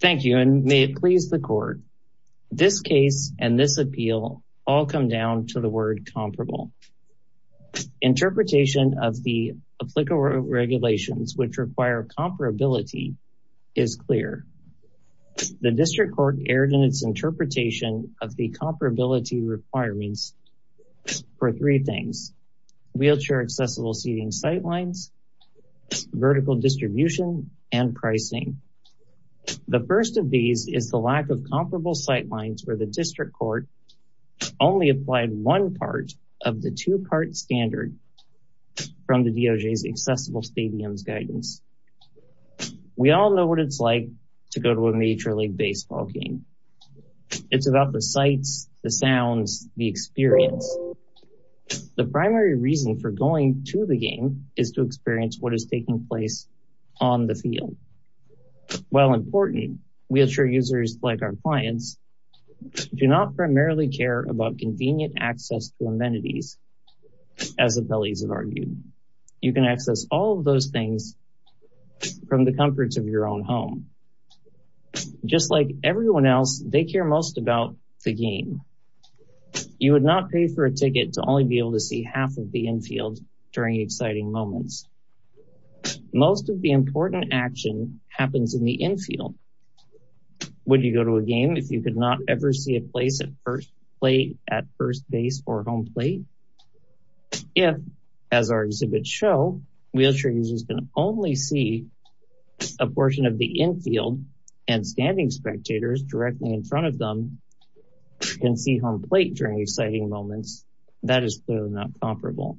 Thank you and may it please the court. This case and this appeal all come down to the word comparable. Interpretation of the applicable regulations which require comparability is clear. The district court erred in its interpretation of the comparability requirements for three things. Wheelchair The first of these is the lack of comparable sightlines where the district court only applied one part of the two part standard from the DOJ's accessible stadiums guidance. We all know what it's like to go to a major league baseball game. It's about the sights, the sounds, the experience. The primary reason for going to the game is to experience what is taking place on the field. While important, wheelchair users like our clients do not primarily care about convenient access to amenities. As the bellies of argued, you can access all of those things from the comforts of your own home. Just like everyone else, they care most about the game. You would not pay for a ticket to only be able to see half of the infield during exciting moments. Most of the important action happens in the infield. Would you go to a game if you could not ever see a place at first play at first base or home plate? If, as our exhibits show, wheelchair users can only see a portion of the infield and standing spectators directly in front of them can see home plate during exciting moments. That is clearly not comparable.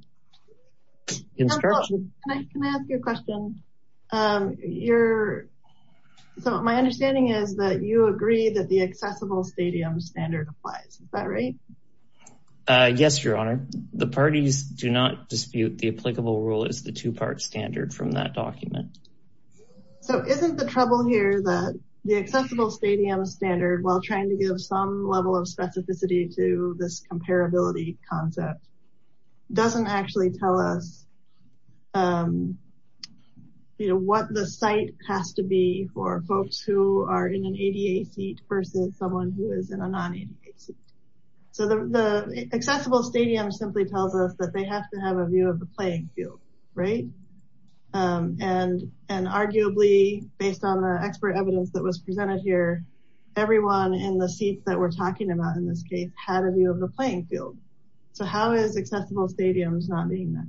Can I ask you a question? You're so my understanding is that you agree that the accessible stadium standard applies. Is that right? Yes, Your Honor, the parties do not dispute the applicable rule is the two part standard from that document. So isn't the trouble here that the accessible stadium standard while trying to give some level of specificity to this comparability concept doesn't actually tell us what the site has to be for folks who are in an ADA seat versus someone who is in a non-ADA seat. So the accessible stadium simply tells us that they have to have a view of the playing field. And arguably based on the expert evidence that was presented here, everyone in the seats that we're talking about in this case had a view of the playing field. So how is accessible stadiums not being met?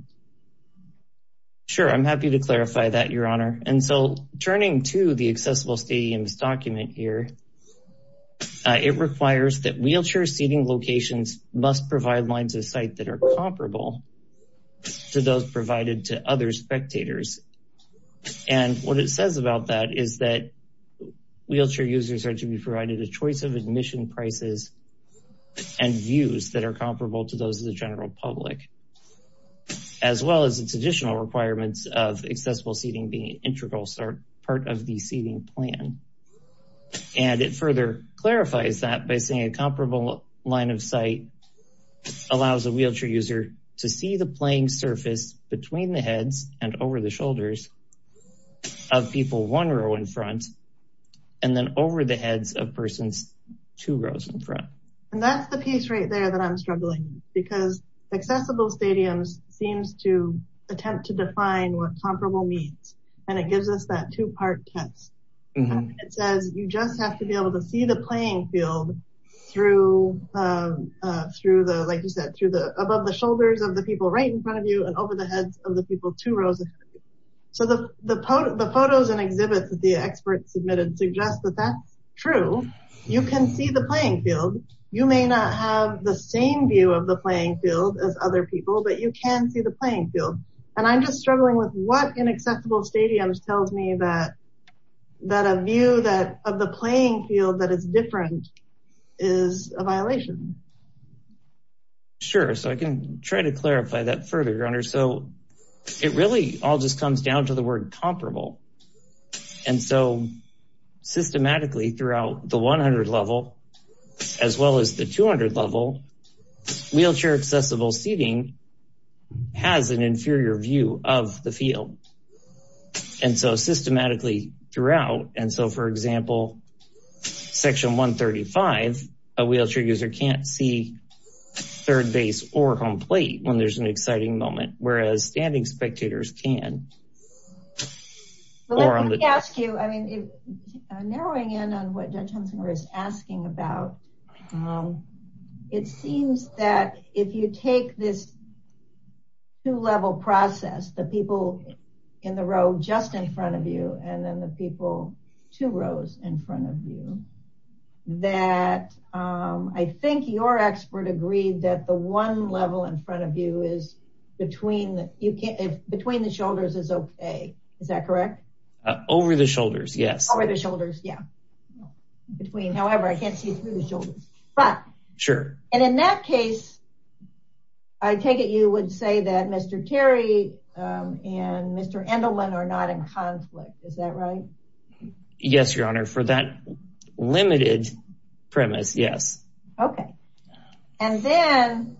Sure, I'm happy to clarify that, Your Honor. And so turning to the accessible stadiums document here, it requires that wheelchair seating locations must provide lines of sight that are comparable to those provided to other spectators. And what it says about that is that wheelchair users are to be provided a choice of admission prices and views that are comparable to those of the general public, as well as its additional requirements of accessible seating being integral part of the seating plan. And it further clarifies that by saying a comparable line of sight allows a wheelchair user to see the playing surface between the heads and over the shoulders of people one row in front, and then over the heads of persons two rows in front. And that's the piece right there that I'm struggling with, because accessible stadiums seems to attempt to define what comparable means. And it gives us that two part test. It says you just have to be able to see the playing field through through the like you said, through the above the shoulders of the people right in front of you and over the heads of the people two rows. So the photos and exhibits that the experts submitted suggest that that's true. You can see the playing field, you may not have the same view of the playing field as other people, but you can see the playing field. And I'm just struggling with what inaccessible stadiums tells me that that a view that of the playing field that is different is a violation. Sure, so I can try to clarify that further, Runner. So it really all just comes down to the word comparable. And so systematically throughout the 100 level, as well as the 200 level, wheelchair accessible seating has an inferior view of the field. And so you can't see third base or home plate when there's an exciting moment, whereas standing spectators can. Well, let me ask you, I mean, narrowing in on what Judge Hunsinger is asking about. It seems that if you take this two level process, the people in the row just in your expert agreed that the one level in front of you is between the between the shoulders is okay. Is that correct? Over the shoulders? Yes. Over the shoulders. Yeah. Between however, I can't see through the shoulders. But Sure. And in that case, I take it you would say that Mr. Terry and Mr. Endelman are not in conflict. Is that right? Yes, Your Honor for that limited premise. Yes. Okay. And then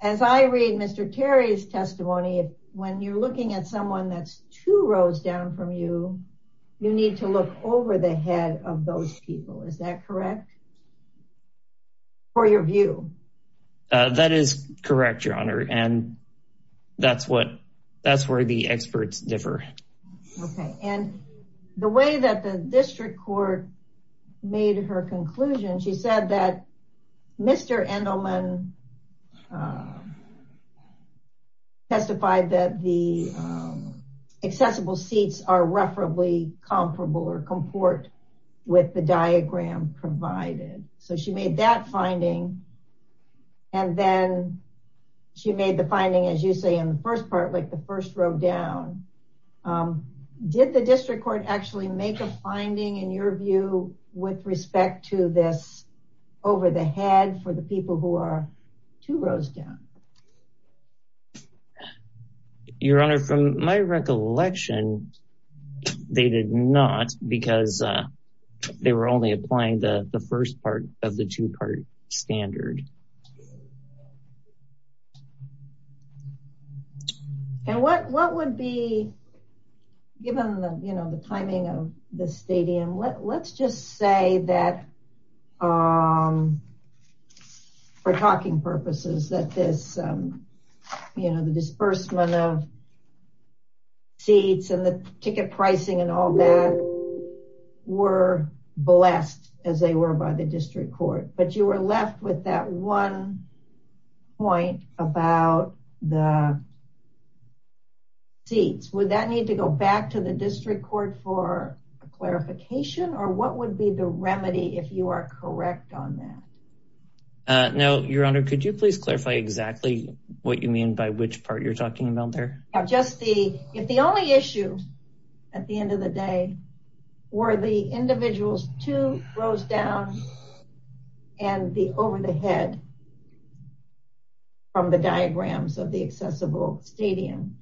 as I read Mr. Terry's testimony, when you're looking at someone that's two rows down from you, you need to look over the head of those people. Is that correct? For your view? That is correct, Your Honor. And that's what that's where the experts differ. Okay. And the way that the district court made her conclusion, she said that Mr. Endelman testified that the accessible seats are roughly comparable or comport with the diagram provided. So she made that finding. And then she made the finding, as you say, in the first part like the first row down. Did the district court actually make a finding in your view with respect to this over the head for the people who are two rows down? Your Honor, from my recollection, they did not because they were only applying the first part of the two part standard. And what would be given the timing of the stadium? Let's just say that for talking purposes that this, you know, the disbursement of seats and the ticket pricing and all that were blessed as they were by the district court. But we're left with that one point about the seats. Would that need to go back to the district court for clarification? Or what would be the remedy if you are correct on that? No, Your Honor, could you please clarify exactly what you mean by which part you're talking about there? Just the if the only issue at the end of the day, were the individuals two rows down and the over the head from the diagrams of the accessible stadium.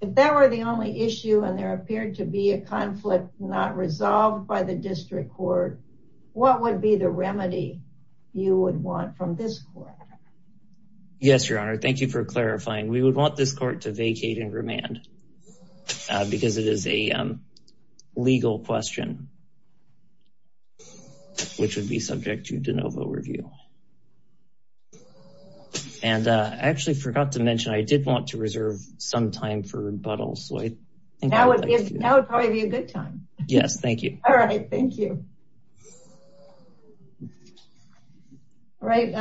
If that were the only issue and there appeared to be a conflict not resolved by the district court, what would be the remedy you would want from this court? Yes, Your Honor. Thank you for clarifying. We would want this court to vacate and remand because it is a legal question, which would be subject to de novo review. And I actually forgot to mention, I did want to reserve some time for rebuttal. Now would probably be a good time. Yes. Thank you. All right. Thank you. Right.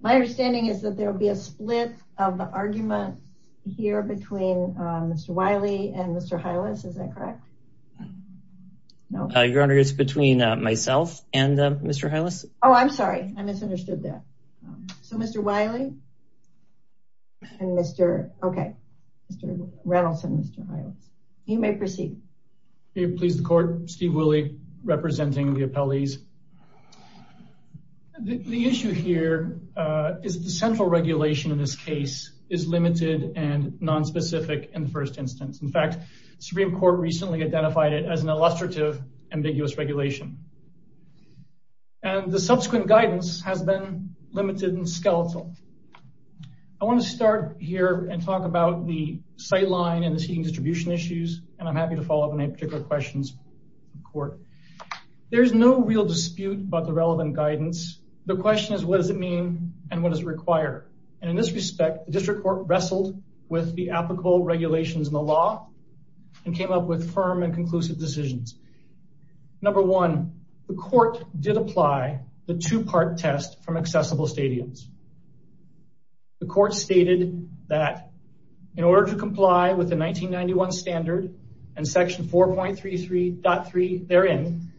My understanding is that there will be a split of the argument here between Mr. Wiley and Mr. Hylas. Is that correct? No, Your Honor. It's between myself and Mr. Hylas. Oh, I'm sorry. I misunderstood that. So Mr. Wiley and Mr. Okay. Mr. Reynolds and Mr. Hylas. You may proceed. Please the court. Steve Woolley representing the appellees. The issue here is the central regulation in this case is limited and nonspecific in the first instance. In fact, Supreme Court recently identified it as an illustrative, ambiguous regulation and the subsequent guidance has been limited and skeletal. I want to start here and talk about the sightline and the seating distribution issues. And I'm happy to follow up on any particular questions in court. There's no real dispute about the relevant guidance. The question is, what does it mean and what does it require? And in this respect, the district court wrestled with the applicable regulations in the law and came up with firm and conclusive decisions. Number one, the court did apply the two-part test from accessible stadiums. The court stated that in order to comply with the 1991 standard and section 4.33.3 therein,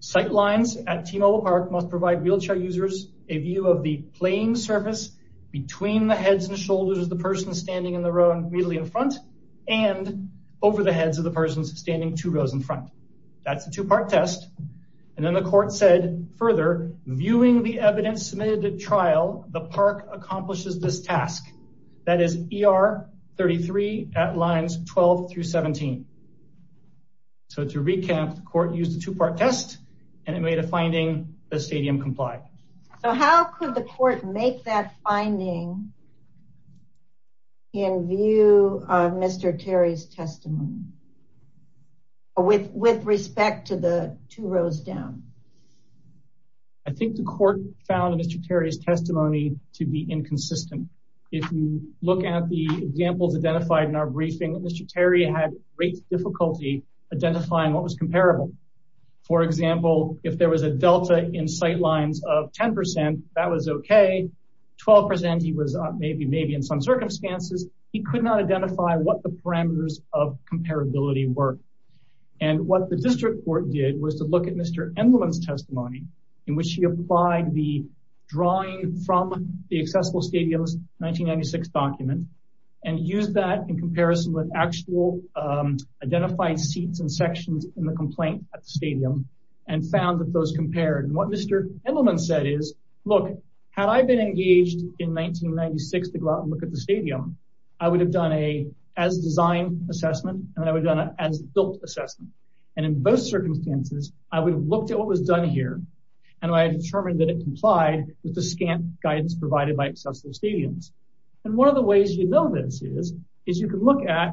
sightlines at T-Mobile Park must provide wheelchair users a view of the playing surface between the heads and shoulders of the person standing in the row immediately in front and over the heads of the persons standing two rows in front. That's a two-part test. And then the court said further viewing the evidence submitted at trial, the park accomplishes this task. That is ER33 at lines 12 through 17. So to recap, the court used the two-part test and it made a finding the stadium complied. So how could the court make that finding in view of Mr. Terry's testimony with respect to the two rows down? I think the court found Mr. Terry's testimony to be inconsistent. If you look at the examples identified in our briefing, Mr. Terry had great difficulty identifying what was comparable. For example, if there was a delta in sightlines of 10%, that was okay. 12% he was maybe in some circumstances, he could not identify what the parameters of comparability were. And what the district court did was to look at Mr. Edelman's testimony in which he applied the drawing from the accessible stadiums 1996 document and use that in comparison with actual identified seats and sections in the complaint at the stadium and found that those compared. And what Mr. Edelman said is, look, had I been engaged in 1996 to go I would have done a as-designed assessment and I would have done an as-built assessment. And in both circumstances, I would have looked at what was done here and I determined that it complied with the scant guidance provided by accessible stadiums. And one of the ways you know this is, is you can look at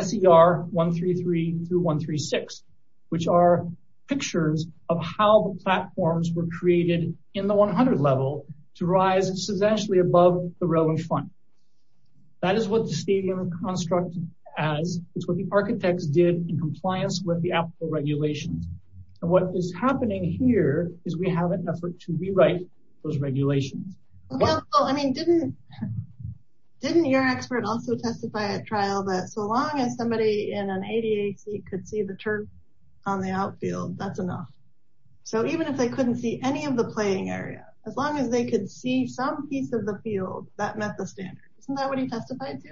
SER 133 through 136, which are pictures of how the platforms were that is what the stadium is constructed as, it's what the architects did in compliance with the applicable regulations. And what is happening here is we have an effort to rewrite those regulations. I mean, didn't your expert also testify at trial that so long as somebody in an ADA seat could see the turf on the outfield, that's enough. So even if they couldn't see any of the playing area, as long as they could see some piece of the field that met the standards. Isn't that what he testified to?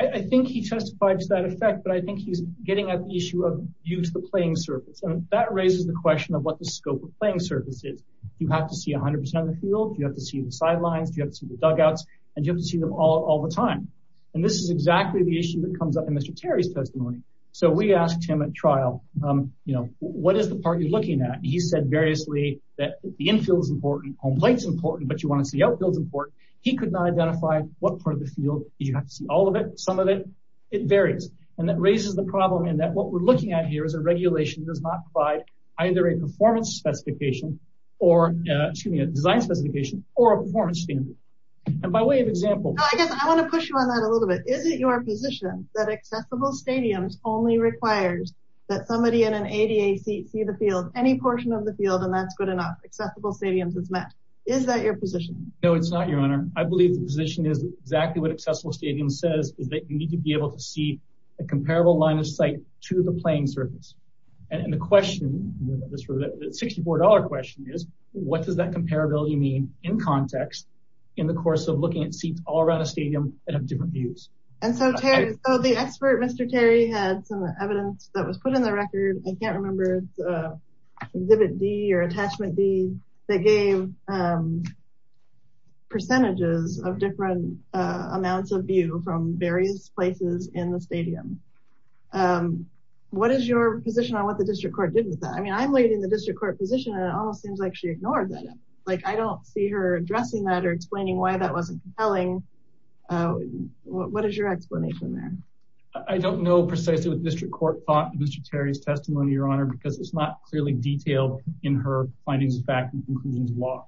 I think he testified to that effect, but I think he's getting at the issue of use the playing surface. And that raises the question of what the scope of playing surface is. You have to see 100% of the field, you have to see the sidelines, you have to see the dugouts, and you have to see them all the time. And this is exactly the issue that comes up in Mr. Terry's testimony. So we asked him at trial, you know, what is the part you're looking at? He said that the infield is important, home plate is important, but you want to see outfields important. He could not identify what part of the field you have to see all of it, some of it, it varies. And that raises the problem in that what we're looking at here is a regulation does not provide either a performance specification, or excuse me, a design specification or a performance standard. And by way of example, I guess I want to push you on that a little bit. Is it your position that accessible stadiums only requires that somebody in an ADA seat see the field, any portion of the field, and that's good enough, accessible stadiums is met? Is that your position? No, it's not, Your Honor. I believe the position is exactly what accessible stadiums says, is that you need to be able to see a comparable line of sight to the playing surface. And the question, the $64 question is, what does that comparability mean in context, in the course of looking at seats all around a stadium that have different views? And so the expert, Mr. Terry, had some evidence that was put in the record. I can't remember if it's Exhibit D or Attachment D that gave percentages of different amounts of view from various places in the stadium. What is your position on what the district court did with that? I mean, I'm waiting the district court position, and it almost seems like she ignored that. Like, I don't see her addressing that or explaining why that wasn't compelling. What is your explanation there? I don't know precisely what the district court thought of Mr. Terry's testimony, Your Honor, because it's not clearly detailed in her findings of fact and conclusions of law.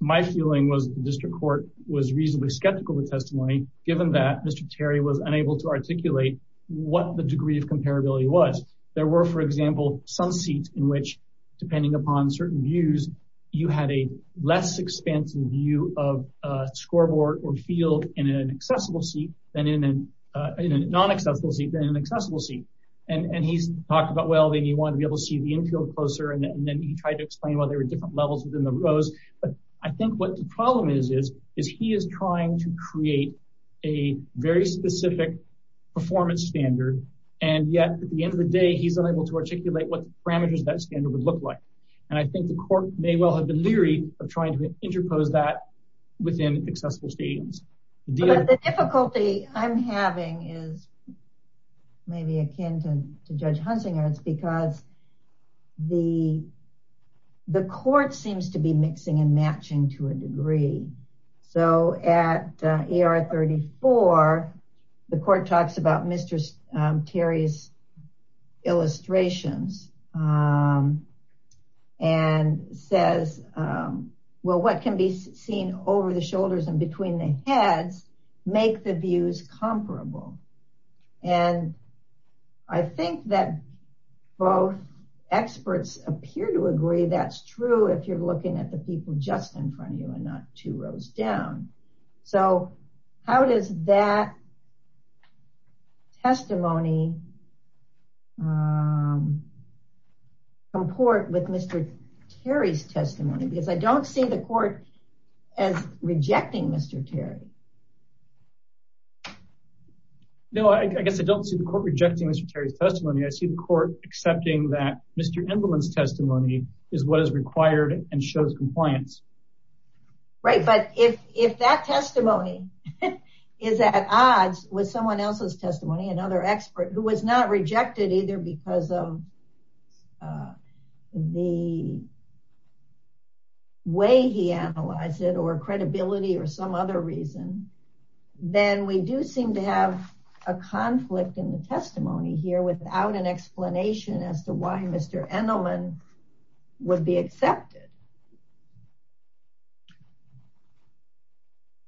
My feeling was the district court was reasonably skeptical of the testimony, given that Mr. Terry was unable to articulate what the degree of comparability was. There were, for example, some seats in which, depending upon certain views, you had a less expansive view of a non-accessible seat than an accessible seat. And he talked about, well, he wanted to be able to see the infield closer, and then he tried to explain why there were different levels within the rows. But I think what the problem is, is he is trying to create a very specific performance standard. And yet, at the end of the day, he's unable to articulate what parameters that standard would look like. And I think the court may well have been leery of trying to is maybe akin to Judge Hunsinger, it's because the court seems to be mixing and matching to a degree. So at ER 34, the court talks about Mr. Terry's illustrations and says, well, what can be And I think that both experts appear to agree that's true if you're looking at the people just in front of you and not two rows down. So how does that testimony comport with Mr. Terry's testimony? Because I don't see the court as rejecting Mr. Terry. No, I guess I don't see the court rejecting Mr. Terry's testimony. I see the court accepting that Mr. Imbleman's testimony is what is required and shows compliance. Right. But if that testimony is at odds with someone else's testimony, another expert who was not rejected either because of the way he analyzed it or credibility or some reason, then we do seem to have a conflict in the testimony here without an explanation as to why Mr. Imbleman would be accepted.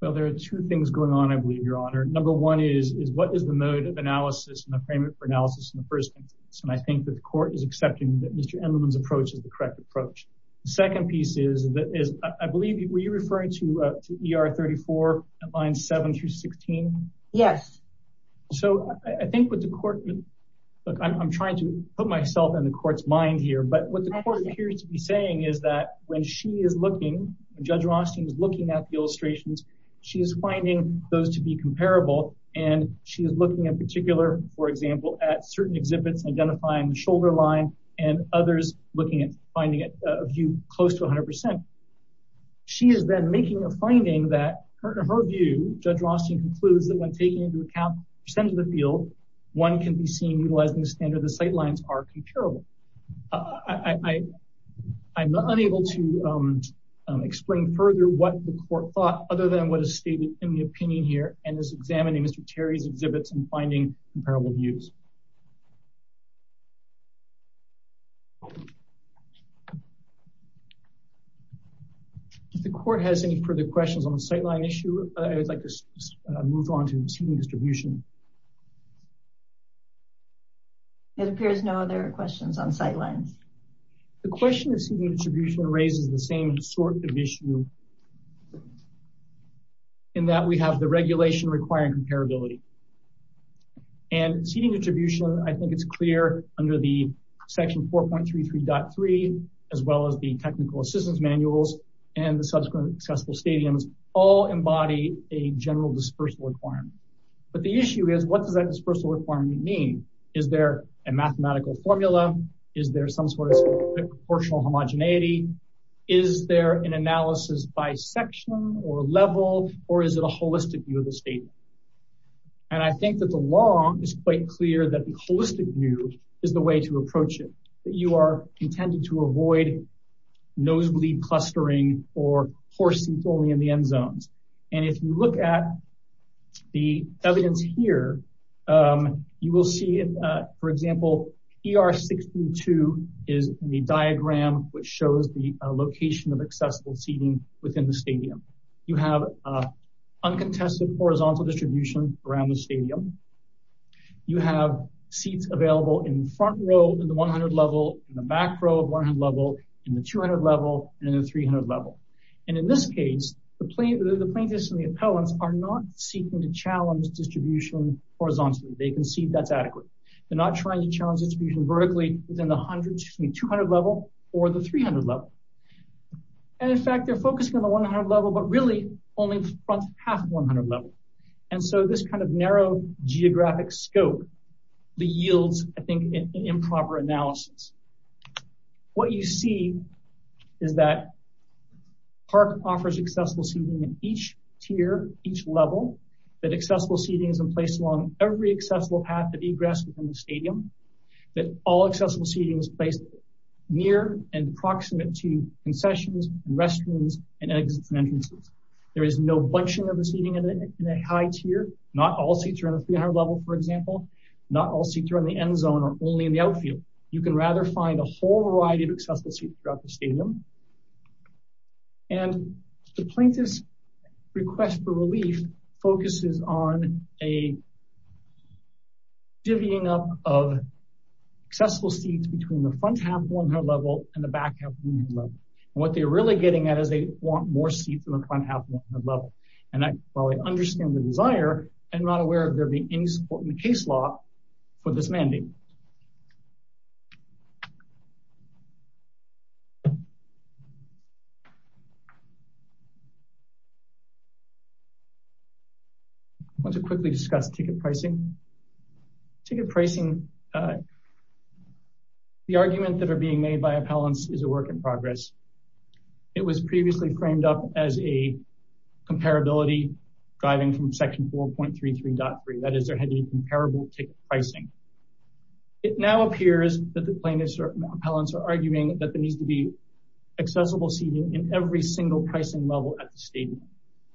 Well, there are two things going on, I believe, Your Honor. Number one is what is the mode of analysis and the framework for analysis in the first instance? And I think that the court is accepting that Mr. Imbleman's approach is the line 7 through 16. Yes. So I think what the court, look, I'm trying to put myself in the court's mind here. But what the court appears to be saying is that when she is looking, Judge Rothstein is looking at the illustrations, she is finding those to be comparable. And she is looking in particular, for example, at certain exhibits, identifying the shoulder line and others looking at finding a view close to 100%. She is then making a finding that her view, Judge Rothstein concludes that when taking into account the percentage of the field, one can be seen utilizing the standard of the sight lines are comparable. I'm unable to explain further what the court thought other than what is stated in the opinion here and is examining Mr. Imbleman's views. If the court has any further questions on the sight line issue, I would like to move on to receiving distribution. It appears no other questions on sight lines. The question of receiving distribution raises the same sort of issue in that we have the regulation requiring comparability. And receiving distribution, I think it's clear under the section 4.33.3, as well as the technical assistance manuals, and the subsequent accessible stadiums all embody a general dispersal requirement. But the issue is, what does that dispersal requirement mean? Is there a mathematical formula? Is there some sort of proportional homogeneity? Is there an analysis by section or level? Or is it a holistic view of the stadium? And I think that the law is quite clear that the holistic view is the way to approach it, that you are intended to avoid nosebleed clustering or poor seats only in the end zones. And if you look at the evidence here, you will see, for example, ER62 is the diagram which shows the location of accessible seating within the stadium. You have uncontested horizontal distribution around the stadium. You have seats available in front row in the 100 level, in the back row of 100 level, in the 200 level, and in the 300 level. And in this case, the plaintiffs and the appellants are not seeking to challenge distribution horizontally. They concede that's adequate. They're not trying to challenge distribution vertically within the 200 level or the 300 level. And in fact, they're focusing on the 100 level, but really only front half 100 level. And so this kind of narrow geographic scope yields, I think, an improper analysis. What you see is that park offers accessible seating in each tier, each level, that accessible seating is in place along every accessible path that egress within the stadium, that all accessible seating is placed near and proximate to concessions, restrooms, and exits and entrances. There is no bunching of the seating in a high tier, not all seats are in the 300 level, for example, not all seats are in the end zone, or only in the outfield. You can rather find a whole variety of accessible seats throughout the stadium. And the plaintiff's request for relief focuses on a divvying up of accessible seats between the front half 100 level and the back half 100 level. And what they're really getting at is they want more seats in the front half 100 level. And while I understand the desire, I'm not aware of there being any support in the case law for this mandate. I want to quickly discuss ticket pricing. Ticket pricing, the argument that are being made by appellants is a work in progress. It was previously framed up as a comparability driving from section 4.33.3, that is there had been comparable ticket pricing. It now appears that the plaintiffs or appellants are arguing that there needs to be accessible seating in every single pricing level at the stadium.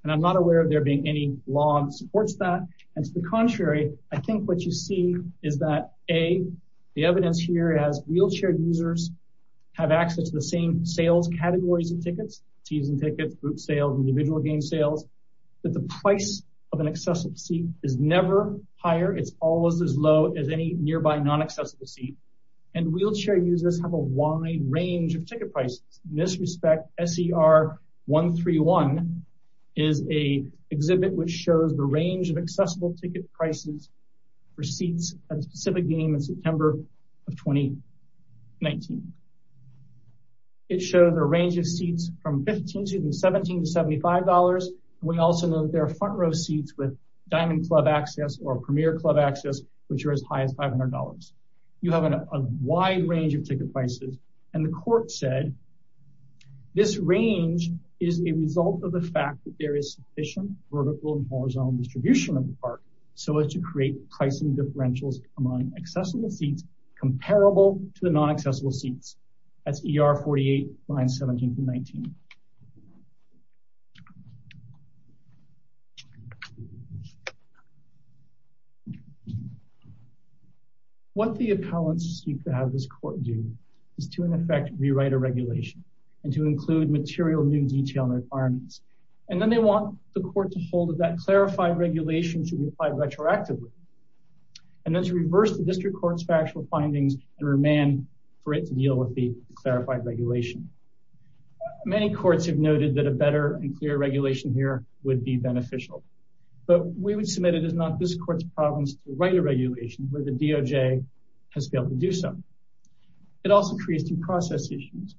And I'm not aware of there being any law that supports that. And to the contrary, I think what you see is that A, the evidence here as wheelchair users have access to the same sales categories and tickets, season tickets, group sales, individual game sales, that the price of an accessible seat is never higher. It's always as low as any nearby non-accessible seat. And wheelchair users have a wide range of ticket prices. In this respect, SER 131 is a exhibit which shows the range of accessible ticket prices for seats at a specific game in September of 2019. It showed a range of seats from $15 to $17 to $75. We also know that there are front row seats with Diamond Club access or Premier Club access, which are as high as $500. You have a wide range of ticket prices. And the court said, this range is a result of the fact that there is sufficient vertical and horizontal distribution of the park, so as to create pricing differentials among accessible seats comparable to the non-accessible seats. That's ER 48, lines 17 to 19. What the appellants seek to have this court do is to, in effect, rewrite a regulation and to include material new detail requirements. And then they want the court to hold that clarified regulation should be applied retroactively. And then to reverse the district court's factual findings and remand for it to deal with the clarified regulation. Many courts have noted that a better and clearer regulation here would be beneficial, but we would submit it is not this court's province to write a regulation where the DOJ has failed to do so. It also creates new process issues.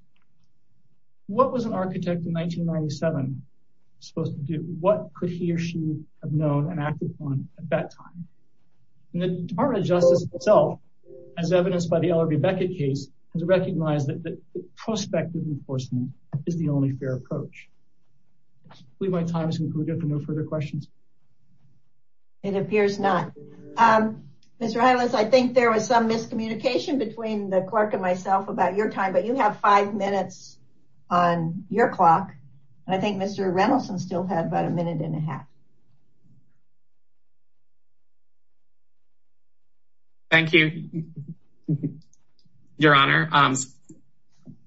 What was an architect in 1997 supposed to do? What could he or she have known and acted on at that time? And the Department of Justice itself, as evidenced by the LRB Beckett case, has recognized that prospective enforcement is the only fair approach. I believe my time is concluded for no further questions. It appears not. Mr. Heinles, I think there was some miscommunication between the clerk and myself about your time, but you have five minutes on your clock. And I think Mr. Reynolds still had about a minute and a half. Thank you, Your Honor.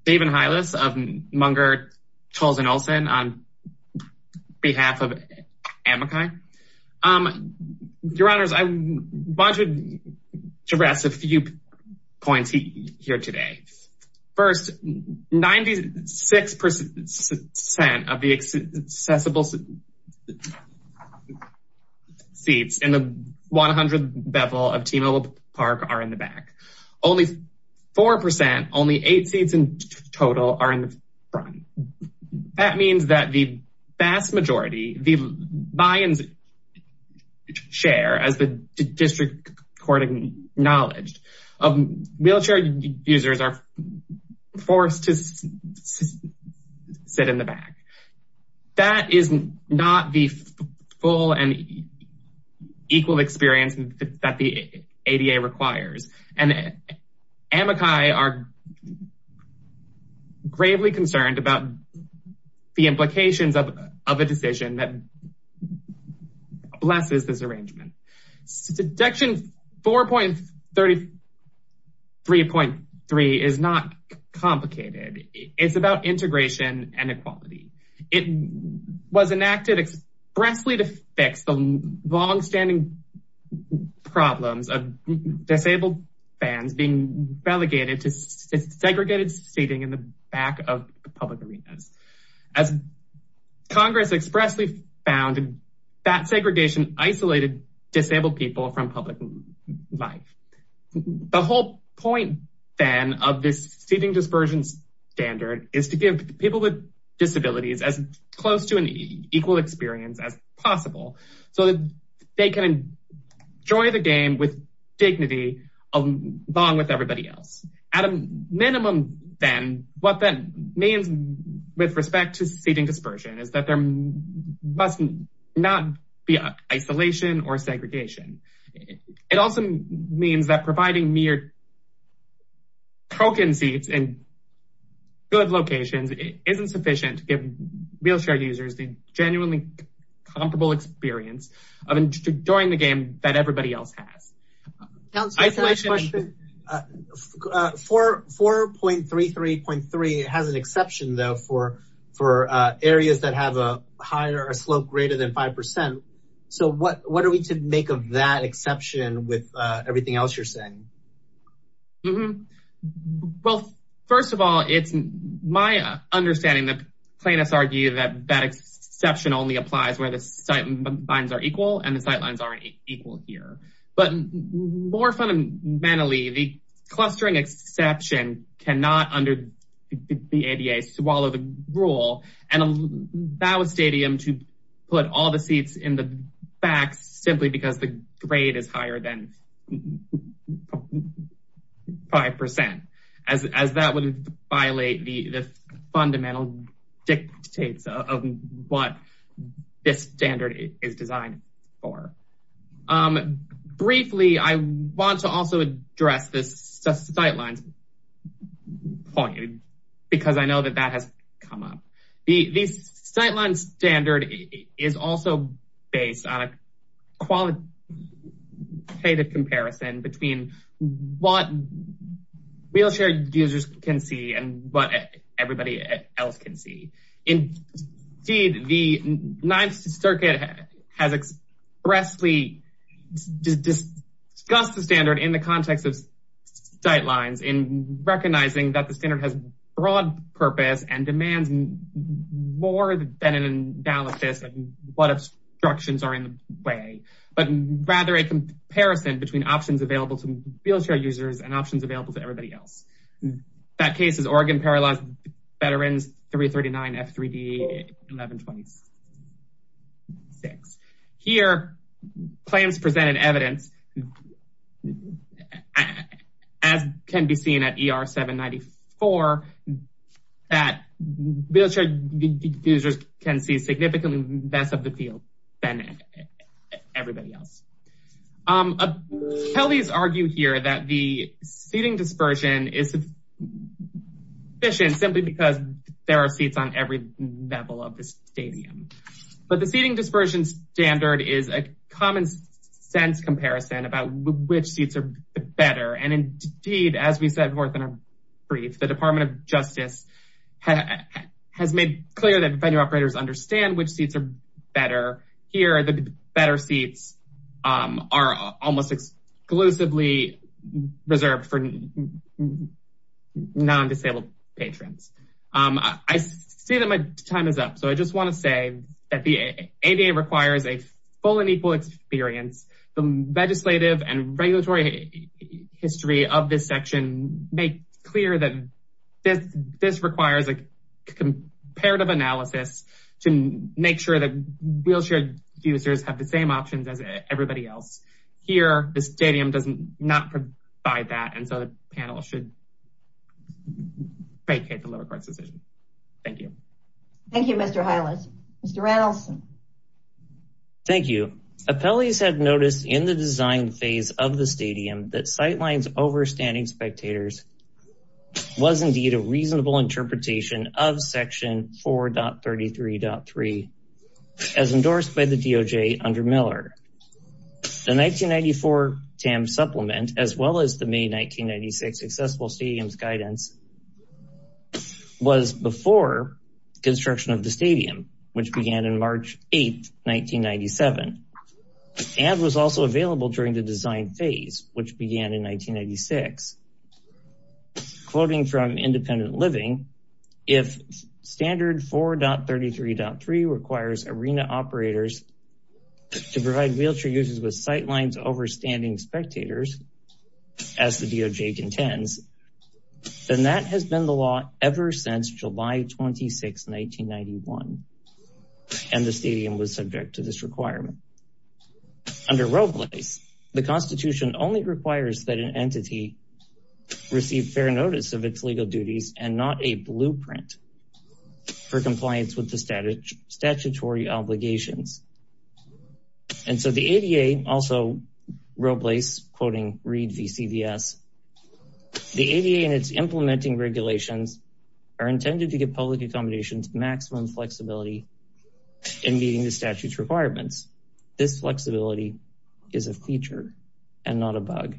David Heinles of Munger, Tolles, and Olson on behalf of Amakai. Your Honor, I want to address a few points here today. First, 96% of the accessible seats in the 100th bevel of T-Mobile Park are in the back. Only 4%, only eight seats in total, are in the front. That means that the vast majority, the buy-in share, as the district court acknowledged, wheelchair users are forced to sit in the back. That is not the full and gravely concerned about the implications of a decision that blesses this arrangement. Deduction 4.33.3 is not complicated. It's about integration and equality. It was enacted expressly to fix the longstanding problems of disabled fans being delegated to segregated seating in the public arenas. As Congress expressly found that segregation isolated disabled people from public life. The whole point then of this seating dispersion standard is to give people with disabilities as close to an equal experience as possible so that they can enjoy the game with means with respect to seating dispersion is that there must not be isolation or segregation. It also means that providing mere token seats in good locations isn't sufficient to give wheelchair users the genuinely comparable experience of enjoying the game that everybody else has. 4.33.3 has an exception though for areas that have a higher slope greater than 5%. So what are we to make of that exception with everything else you're saying? Well, first of all, it's my understanding that plaintiffs argue that that exception only applies where the sight lines are equal and the sight lines aren't equal here. But more fundamentally, the clustering exception cannot under the ADA swallow the rule and allow a stadium to put all the seats in the back simply because the grade is higher than 5% as that would violate the fundamental dictates of what this standard is designed for. Briefly, I want to also address this sight lines point because I know that that has come up. The sight line standard is also based on a qualitative comparison between what wheelchair users can see and what everybody else can see. Indeed, the Ninth Circuit has expressly discussed the standard in the context of sight lines in recognizing that the standard has broad purpose and demands more than an analysis of what obstructions are in the way, but rather a comparison between options available to wheelchair users and options available to everybody else. That case is Oregon Paralyzed Veterans 339 F3D 1126. Here, claims presented evidence that as can be seen at ER 794, that wheelchair users can see significantly less of the field than everybody else. Attorneys argue here that the seating dispersion is efficient simply because there are seats on every level of the stadium. But the seating sense comparison about which seats are better. Indeed, as we said more than a brief, the Department of Justice has made clear that venue operators understand which seats are better. Here, the better seats are almost exclusively reserved for non-disabled patrons. I see that my time is up. I just want to say that the ADA requires a full and equal experience. The legislative and regulatory history of this section make clear that this requires a comparative analysis to make sure that wheelchair users have the same options as everybody else. Here, the stadium does not provide that and so the panel should vacate the lower court's decision. Thank you. Thank you, Mr. Hylas. Mr. Randolphson. Thank you. Appellees have noticed in the design phase of the stadium that sightlines overstanding spectators was indeed a reasonable interpretation of Section 4.33.3 as endorsed by the DOJ under Miller. The 1994 TAM supplement as well as the May 1996 accessible stadiums guidance was before construction of the stadium, which began in March 8th, 1997 and was also available during the design phase, which began in 1996. Quoting from Independent Living, if standard 4.33.3 requires arena operators to provide wheelchair users with sightlines overstanding spectators as the DOJ intends, then that has been the law ever since July 26th, 1991 and the stadium was subject to this requirement. Under Roblace, the Constitution only requires that an entity receive fair notice of its legal duties and not a blueprint for compliance with the statutory obligations. And so the ADA, also Roblace quoting Reed v. CVS, the ADA and its implementing regulations are intended to give public accommodations maximum flexibility in meeting the statute's requirements. This flexibility is a feature and not a bug.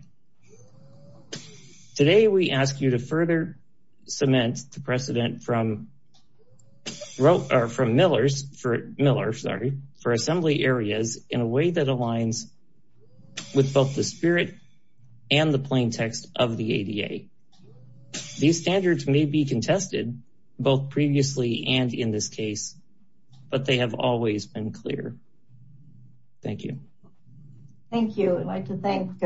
Today we ask you to further cement the precedent from Miller for assembly areas in a way that aligns with both the spirit and the plain text of the ADA. These standards may be contested both previously and in this case, but they have always been clear. Thank you. Thank you. I'd like to thank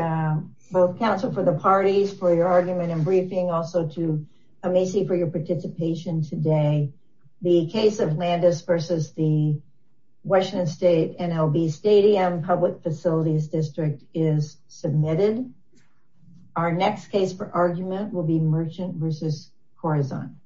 both council for the parties for your argument and briefing also to Amici for your participation today. The case of Landis v. the Washington State NLB Stadium Public Facilities District is submitted. Our next case for argument will be Merchant v. Corazon.